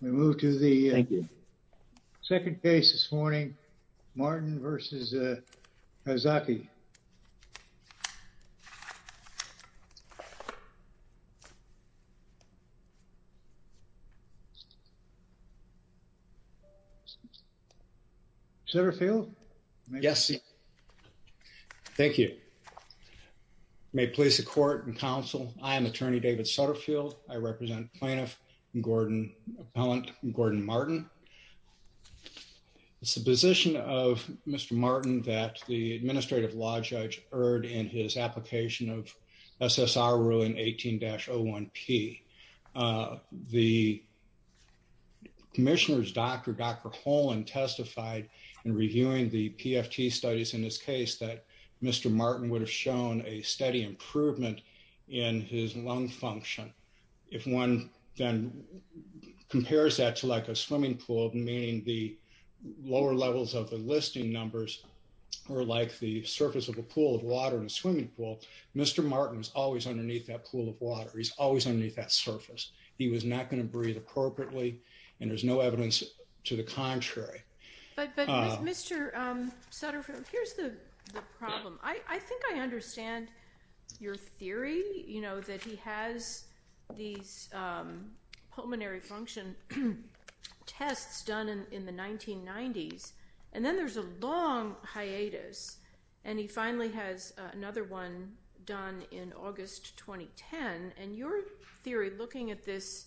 We move to the second case this morning, Martin v. Kijakazi. Sutterfield? Yes, thank you. May it please the court and council, I am attorney David Sutterfield, I represent Plaintiff Gordon Appellant Gordon Martin. It's the position of Mr. Martin that the Administrative Law Judge erred in his application of SSR rule in 18-01P. The Commissioner's doctor, Dr. Holand, testified in reviewing the PFT studies in this case that Mr. Martin would have shown a steady improvement in his lung function. If one then compares that to like a swimming pool, meaning the lower levels of the listing numbers are like the surface of a pool of water in a swimming pool, Mr. Martin's always underneath that pool of water. He's always underneath that surface. He was not going to breathe appropriately and there's no evidence to the contrary. But Mr. Sutterfield, here's the problem. I think I understand your theory, you know, that he has these pulmonary function tests done in the 1990s and then there's a long hiatus and he finally has another one done in August 2010 and your theory looking at this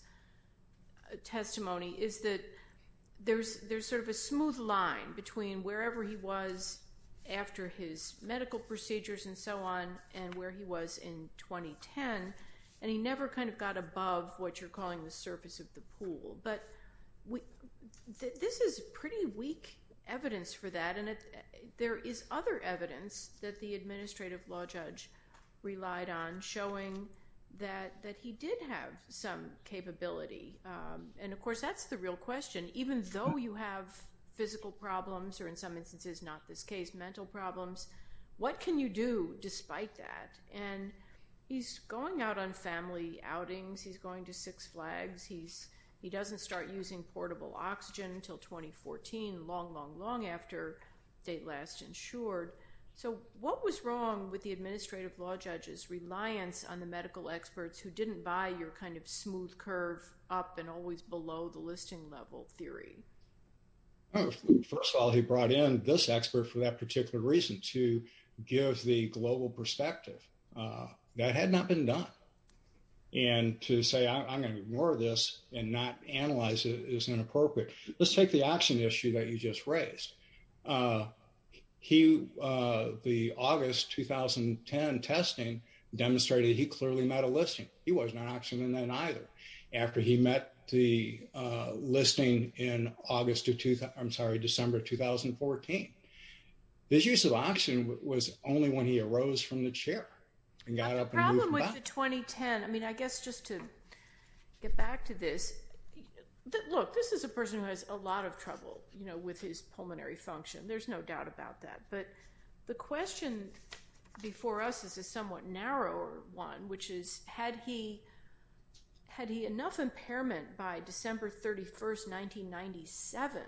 testimony is that there's sort of a smooth line between wherever he was after his medical procedures and so on and where he was in 2010 and he never kind of got above what you're calling the surface of the pool. But this is pretty weak evidence for that and there is other evidence that the administrative law judge relied on showing that he did have some capability. And of course, that's the real question. Even though you have physical problems or in some instances, not this case, mental problems, what can you do despite that? And he's going out on family outings. He's going to Six Flags. He doesn't start using portable oxygen until 2014, long, long after state last insured. So what was wrong with the administrative law judge's reliance on the medical experts who didn't buy your kind of smooth curve up and always below the listing level theory? First of all, he brought in this expert for that particular reason to give the global perspective. That had not been done. And to say, I'm going to uh, he, uh, the August, 2010 testing demonstrated he clearly met a listing. He wasn't actually in that either. After he met the, uh, listing in August of two, I'm sorry, December, 2014. This use of oxygen was only when he arose from the chair and got up. The problem with the 2010, I mean, I guess just to get back to this, look, this is a person who has a lot of trouble, you know, with his pulmonary function. There's no doubt about that. But the question before us is a somewhat narrower one, which is had he, had he enough impairment by December 31st, 1997,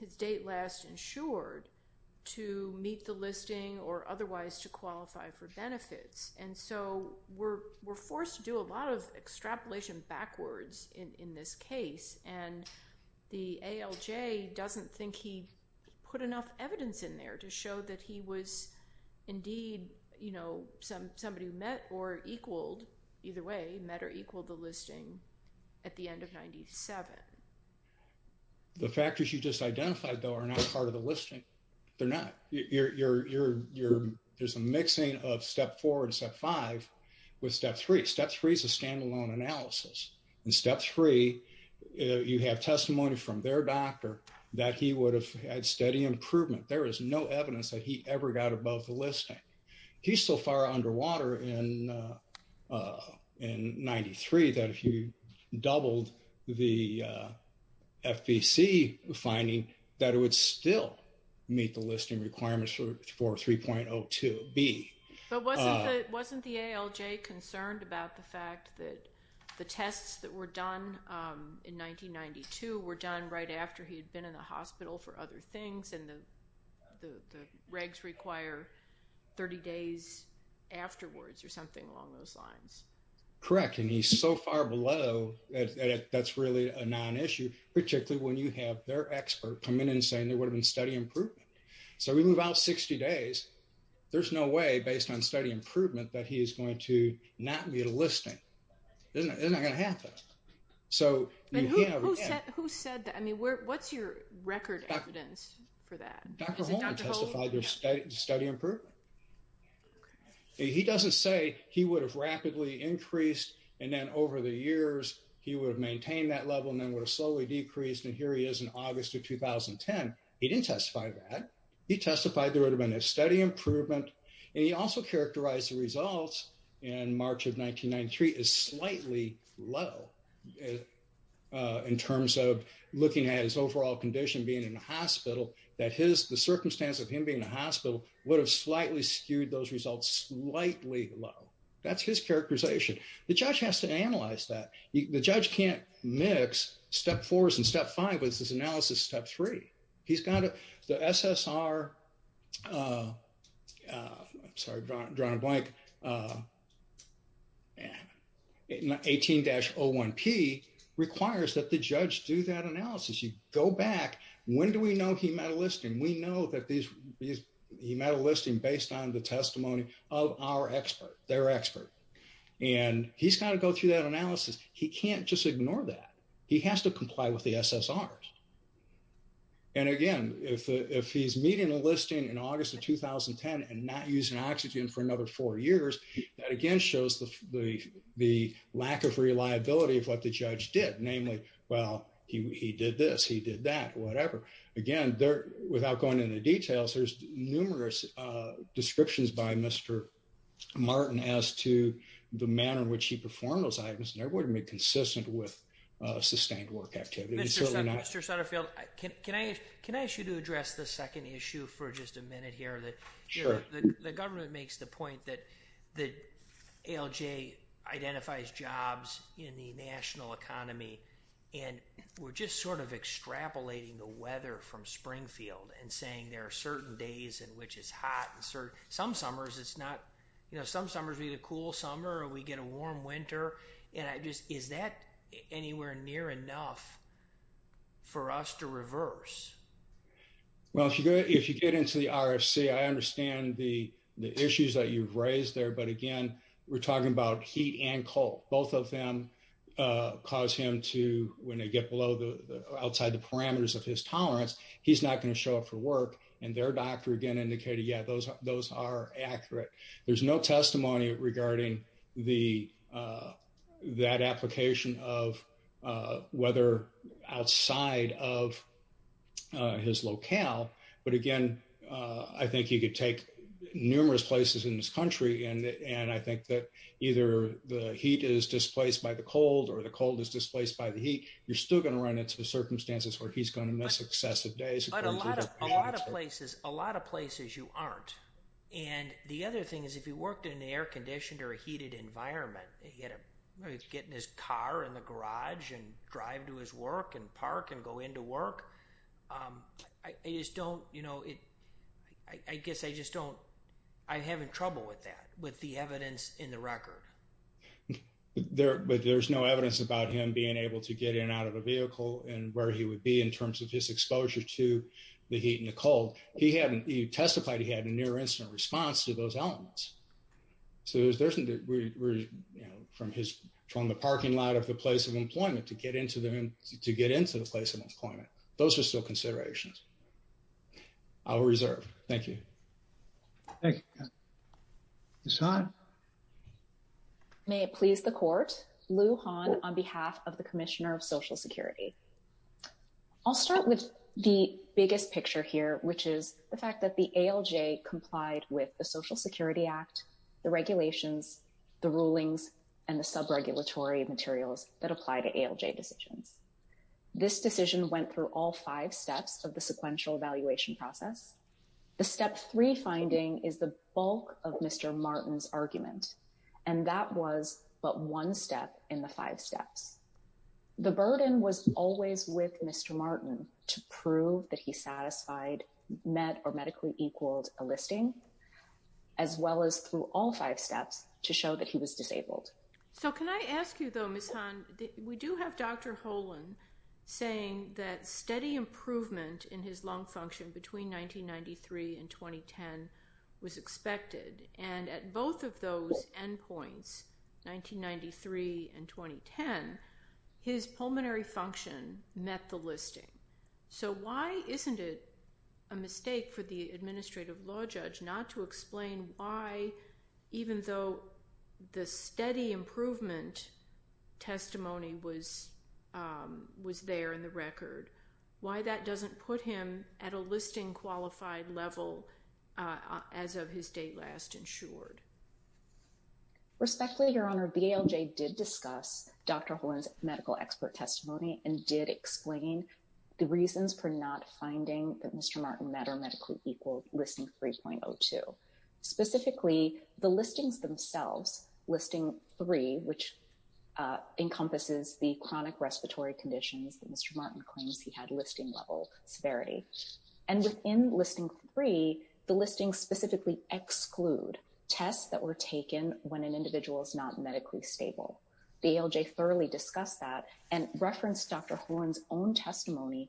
his date last insured to meet the listing or otherwise to qualify for benefits. And so we're, we're forced to do a lot of extrapolation backwards in this case. And the ALJ doesn't think he put enough evidence in there to show that he was indeed, you know, some, somebody who met or equaled either way, met or equaled the listing at the end of 97. The factors you just identified though, are not part of the listing. They're not there's a mixing of step four and step five with step three. Step three is a standalone analysis and step three, you have testimony from their doctor that he would have had steady improvement. There is no evidence that he ever got above the listing. He's so far underwater in, in 93 that if you doubled the FVC finding that it would still meet the listing requirements for, for 3.02B. But wasn't the, wasn't the ALJ concerned about the fact that the tests that were done in 1992 were done right after he had been in the hospital for other things and the, the regs require 30 days afterwards or something along those lines. Correct. And he's so far below that that's really a non-issue, particularly when you have their expert come in and saying there would have been steady improvement. So we move out 60 days. There's way based on steady improvement that he is going to not meet a listing. It's not going to happen. So who said that? I mean, where, what's your record evidence for that? Dr. Holman testified there's steady improvement. He doesn't say he would have rapidly increased and then over the years he would have maintained that level and then would have slowly decreased. And here he is in August of 2010, he didn't testify to that. He testified there would have been a steady improvement and he also characterized the results in March of 1993 as slightly low in terms of looking at his overall condition being in the hospital that his, the circumstance of him being in the hospital would have slightly skewed those results slightly low. That's his characterization. The judge has to analyze that. The judge can't mix step fours and step five with this analysis step three. He's got the SSR. I'm sorry, drawn a blank. 18-01P requires that the judge do that analysis. You go back. When do we know he met a listing? We know that these, he met a listing based on the testimony of our expert, their expert, and he's got to go through that analysis. He can't just ignore that. He has to comply with the SSRs. And again, if he's meeting a listing in August of 2010 and not using oxygen for another four years, that again shows the lack of reliability of what the judge did. Namely, well, he did this, he did that, whatever. Again, there, without going into details, there's numerous descriptions by Mr. Martin as to the manner in which he performed those items. And there wouldn't be consistent with sustained work activity. Mr. Sutterfield, can I ask you to address the second issue for just a minute here? Sure. The government makes the point that ALJ identifies jobs in the national economy, and we're just sort of extrapolating the weather from Springfield and saying there are certain days in which it's hot. Some summers it's not, you know, some summers we get a cool summer or we get a warm winter. And I just, is that anywhere near enough for us to reverse? Well, if you get into the RFC, I understand the issues that you've raised there. But again, we're talking about heat and cold. Both of them cause him to, when they get below the outside the parameters of his tolerance, he's not going to show up for work. And their doctor, again, those are accurate. There's no testimony regarding that application of weather outside of his locale. But again, I think he could take numerous places in this country. And I think that either the heat is displaced by the cold or the cold is displaced by the heat. You're still going to run into circumstances where he's going to miss excessive days. But a lot of places, a lot of places you aren't. And the other thing is if he worked in the air-conditioned or a heated environment, he had to get in his car in the garage and drive to his work and park and go into work. I just don't, you know, I guess I just don't, I'm having trouble with that, with the evidence in the record. There, but there's no evidence about him being able to get in and out of a vehicle and where he would be in terms of his exposure to the heat and the cold. He hadn't, he testified he had a near incident response to those elements. So there isn't, you know, from his, from the parking lot of the place of employment to get into the, to get into the place of employment. Those are still considerations. I will reserve. Thank you. Thank you. Ms. Hahn. May it please the court. Lou Hahn on behalf of the Commissioner of Social Security. I'll start with the biggest picture here, which is the fact that the ALJ complied with the Social Security Act, the regulations, the rulings, and the sub-regulatory materials that apply to ALJ decisions. This decision went through all five steps of the sequential evaluation process. The step three finding is the bulk of Mr. Martin's argument. And that was but one step in the five steps. The burden was always with Mr. Martin to prove that he satisfied, met or medically equaled a listing as well as through all five steps to show that he was disabled. So can I ask you though, Ms. Hahn, we do have Dr. Holan saying that steady improvement in his lung function between 1993 and 2010 was expected. And at both of those endpoints, 1993 and 2010, his pulmonary function met the listing. So why isn't it a mistake for the administrative law not to explain why, even though the steady improvement testimony was there in the record, why that doesn't put him at a listing qualified level as of his date last insured? Respectfully, Your Honor, the ALJ did discuss Dr. Holan's medical expert testimony and did explain the reasons for not finding that Mr. Martin met or medically equaled listing 3.02. Specifically, the listings themselves, listing three, which encompasses the chronic respiratory conditions that Mr. Martin claims he had listing level severity. And within listing three, the listings specifically exclude tests that were taken when an individual is not medically stable. The ALJ thoroughly discussed that and referenced Dr. Holan's own testimony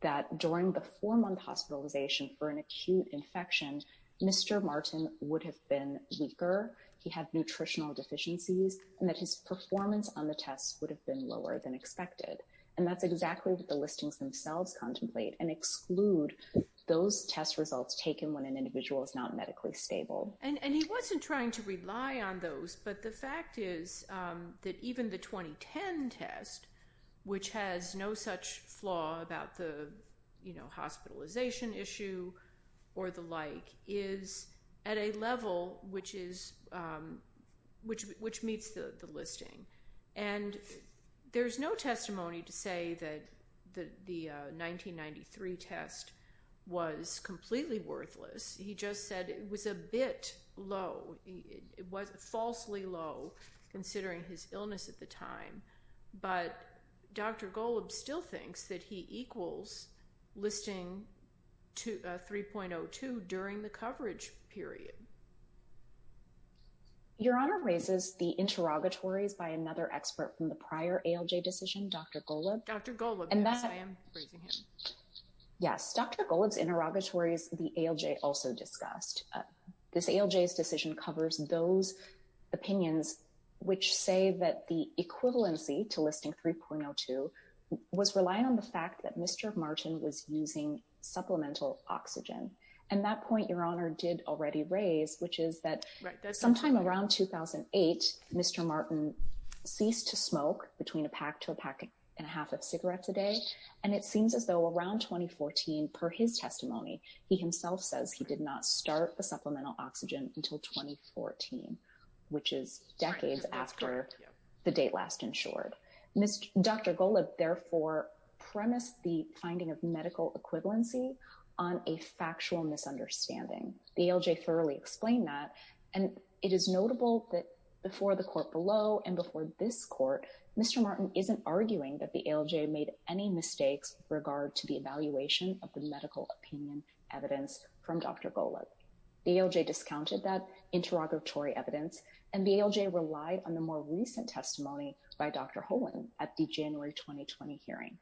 that during the four-month hospitalization for an acute infection, Mr. Martin would have been weaker. He had nutritional deficiencies and that his performance on the tests would have been lower than expected. And that's exactly what the listings themselves contemplate and exclude those test results taken when an individual is not medically stable. And he wasn't trying to rely on those, but the fact is that even the 2010 test, which has no such flaw about the hospitalization issue or the like, is at a level which is, which meets the listing. And there's no testimony to say that the 1993 test was completely worthless. He just said it was a bit low. It was falsely low considering his illness at the time. But Dr. Golub still thinks that he equals listing 3.02 during the coverage period. Your Honor raises the interrogatories by another expert from the prior ALJ decision, Dr. Golub. Yes, Dr. Golub's interrogatories, the ALJ also discussed. This ALJ's decision covers those opinions, which say that the equivalency to listing 3.02 was relying on the fact that Mr. Martin was using supplemental oxygen. And that point Your Honor did already raise, which is that sometime around 2008, Mr. Martin ceased to smoke between a pack to a pack and a half of cigarettes a day. And it seems as though around 2014, per his testimony, he himself says he did not start the supplemental oxygen until 2014, which is decades after the date last insured. Dr. Golub therefore premised the finding of medical equivalency on a factual misunderstanding. The ALJ thoroughly explained that, and it is notable that before the court below and before this court, Mr. Martin isn't arguing that the ALJ made any mistakes with regard to the evaluation of the medical opinion evidence from Dr. Golub. The ALJ discounted that interrogatory evidence, and the ALJ relied on the more recent testimony by Dr. Holin at the January 2020 hearing.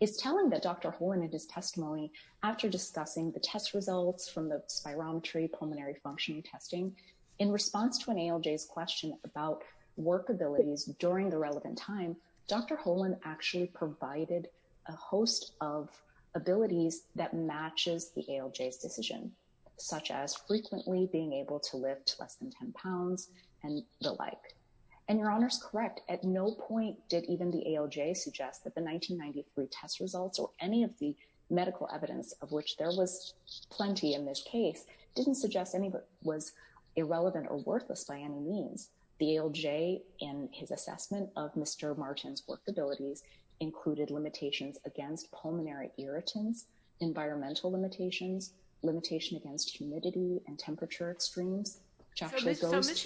It's telling that Dr. Holin in his testimony, after discussing the test results from the spirometry pulmonary functioning testing, in response to an ALJ's question about work abilities during the relevant time, Dr. Holin actually provided a host of abilities that matches the ALJ's decision, such as frequently being able to lift less than 10 pounds and the like. And your honor's correct. At no point did even the ALJ suggest that the 1993 test results or any of the medical evidence, of which there was plenty in this case, didn't suggest any was irrelevant or worthless by any means. The ALJ, in his assessment of Mr. Martin's work abilities, included limitations against pulmonary irritants, environmental limitations, limitation against humidity and temperature extremes, which actually goes to- He's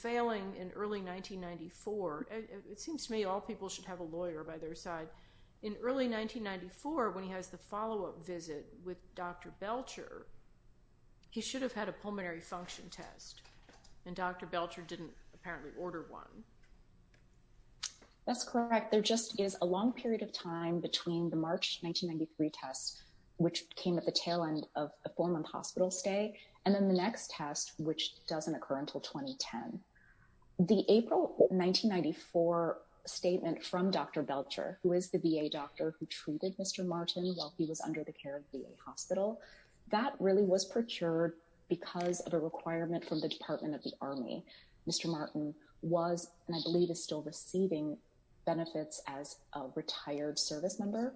failing in early 1994. It seems to me all people should have a lawyer by their side. In early 1994, when he has the follow-up visit with Dr. Belcher, he should have had a pulmonary function test, and Dr. Belcher didn't apparently order one. That's correct. There just is a long period of time between the March 1993 test, which came at the tail end of a four-month hospital stay, and then the next test, which doesn't occur until 2010. The April 1994 statement from Dr. Belcher, who is the VA doctor who treated Mr. Martin while he was under the care of VA hospital, that really was procured because of a requirement from the Department of the Army. Mr. Martin was, and I believe is still receiving benefits as a retired service member.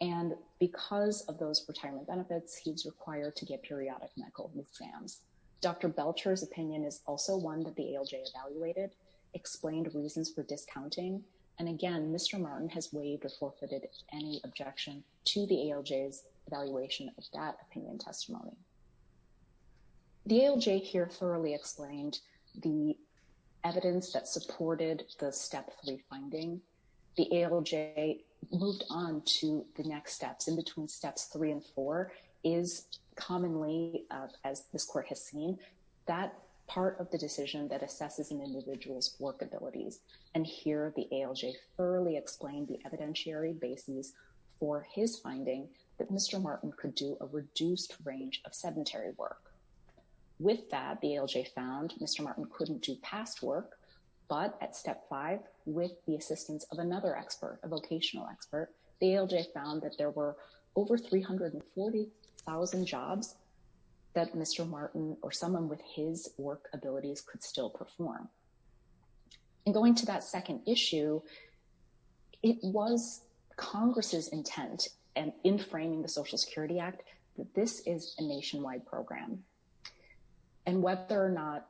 And because of those retirement benefits, he's required to get periodic medical exams. Dr. Belcher's opinion is also one that the ALJ evaluated, explained reasons for discounting. And again, Mr. Martin has waived or forfeited any objection to the ALJ's evaluation of that opinion testimony. The ALJ here thoroughly explained the evidence that supported the Step 3 finding. The ALJ moved on to the next steps. In between Steps 3 and 4 is commonly, as this Court has seen, that part of the decision that assesses an individual's work abilities. And here, the ALJ thoroughly explained the evidentiary basis for his finding that Mr. Martin could do a reduced range of sedentary work. With that, the ALJ found Mr. Martin couldn't do past work, but at Step 5, with the assistance of another expert, a vocational expert, the ALJ found that there were over 340,000 jobs that Mr. Martin or someone with his work abilities could still perform. In going to that second issue, it was Congress's intent, and in framing the Social Security Act, that this is a nationwide program. And whether or not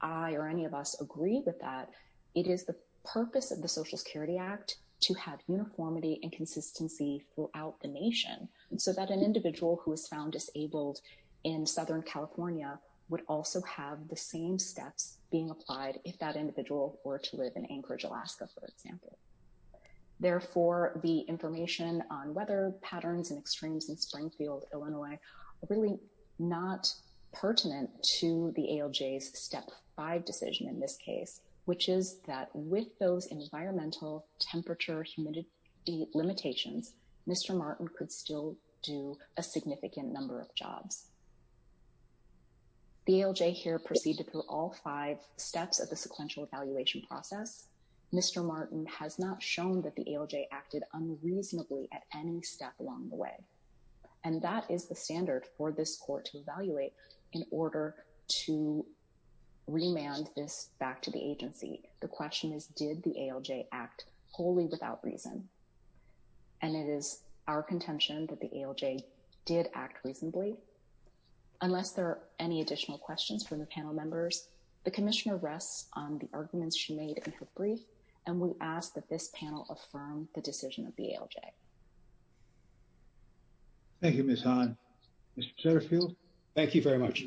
I or any of us agree with that, it is the purpose of the Social Security Act to have uniformity and consistency throughout the nation so that an individual who is found disabled in Southern California would also have the same steps being applied if that individual were to live in Anchorage, Alaska, for example. Therefore, the information on weather patterns and extremes in Springfield, Illinois, really not pertinent to the ALJ's Step 5 decision in this case, which is that with those environmental temperature humidity limitations, Mr. Martin could still do a significant number of jobs. The ALJ here proceeded through all five steps of the sequential evaluation process. Mr. Martin has not shown that the ALJ acted unreasonably at any step along the way. And that is the standard for this court to evaluate in order to remand this back to the agency. The question is, did the ALJ act wholly without reason? And it is our contention that the ALJ did act reasonably. Unless there are any additional questions from the panel members, the Commissioner rests on the arguments she made in her brief, and we ask that this panel affirm the decision of the ALJ. Thank you, Ms. Hahn. Mr. Sutterfield? Thank you very much.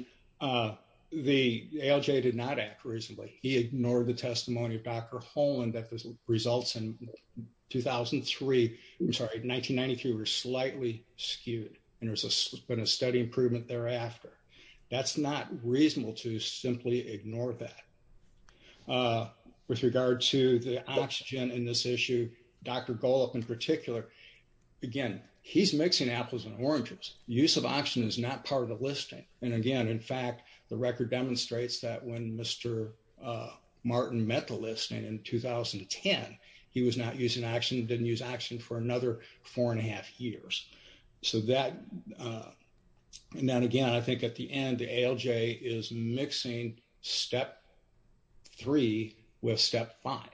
The ALJ did not act reasonably. He ignored the testimony of Dr. Holand that the results in 2003, I'm sorry, 1993, were slightly skewed, and there's been a steady improvement thereafter. That's not reasonable to simply ignore that. With regard to the oxygen in this issue, Dr. Golub in particular, again, he's mixing apples and oranges. Use of oxygen is not part of the listing. And again, in fact, the record demonstrates that when Mr. Martin met the listing in 2010, he was not using oxygen, didn't use oxygen for another four and a half years. So that, and then again, I think at the end, the ALJ is mixing step three with step five.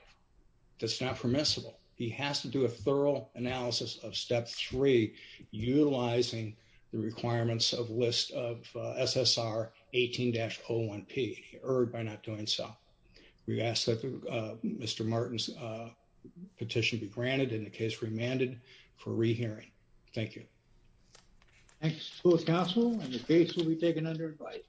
That's not permissible. He has to do a thorough analysis of step three, utilizing the requirements of list of SSR 18-01P, erred by not doing so. We ask that Mr. Martin's petition be granted, and the case remanded for re-hearing. Thank you. Thanks to both Council, and the case will be taken under advisory.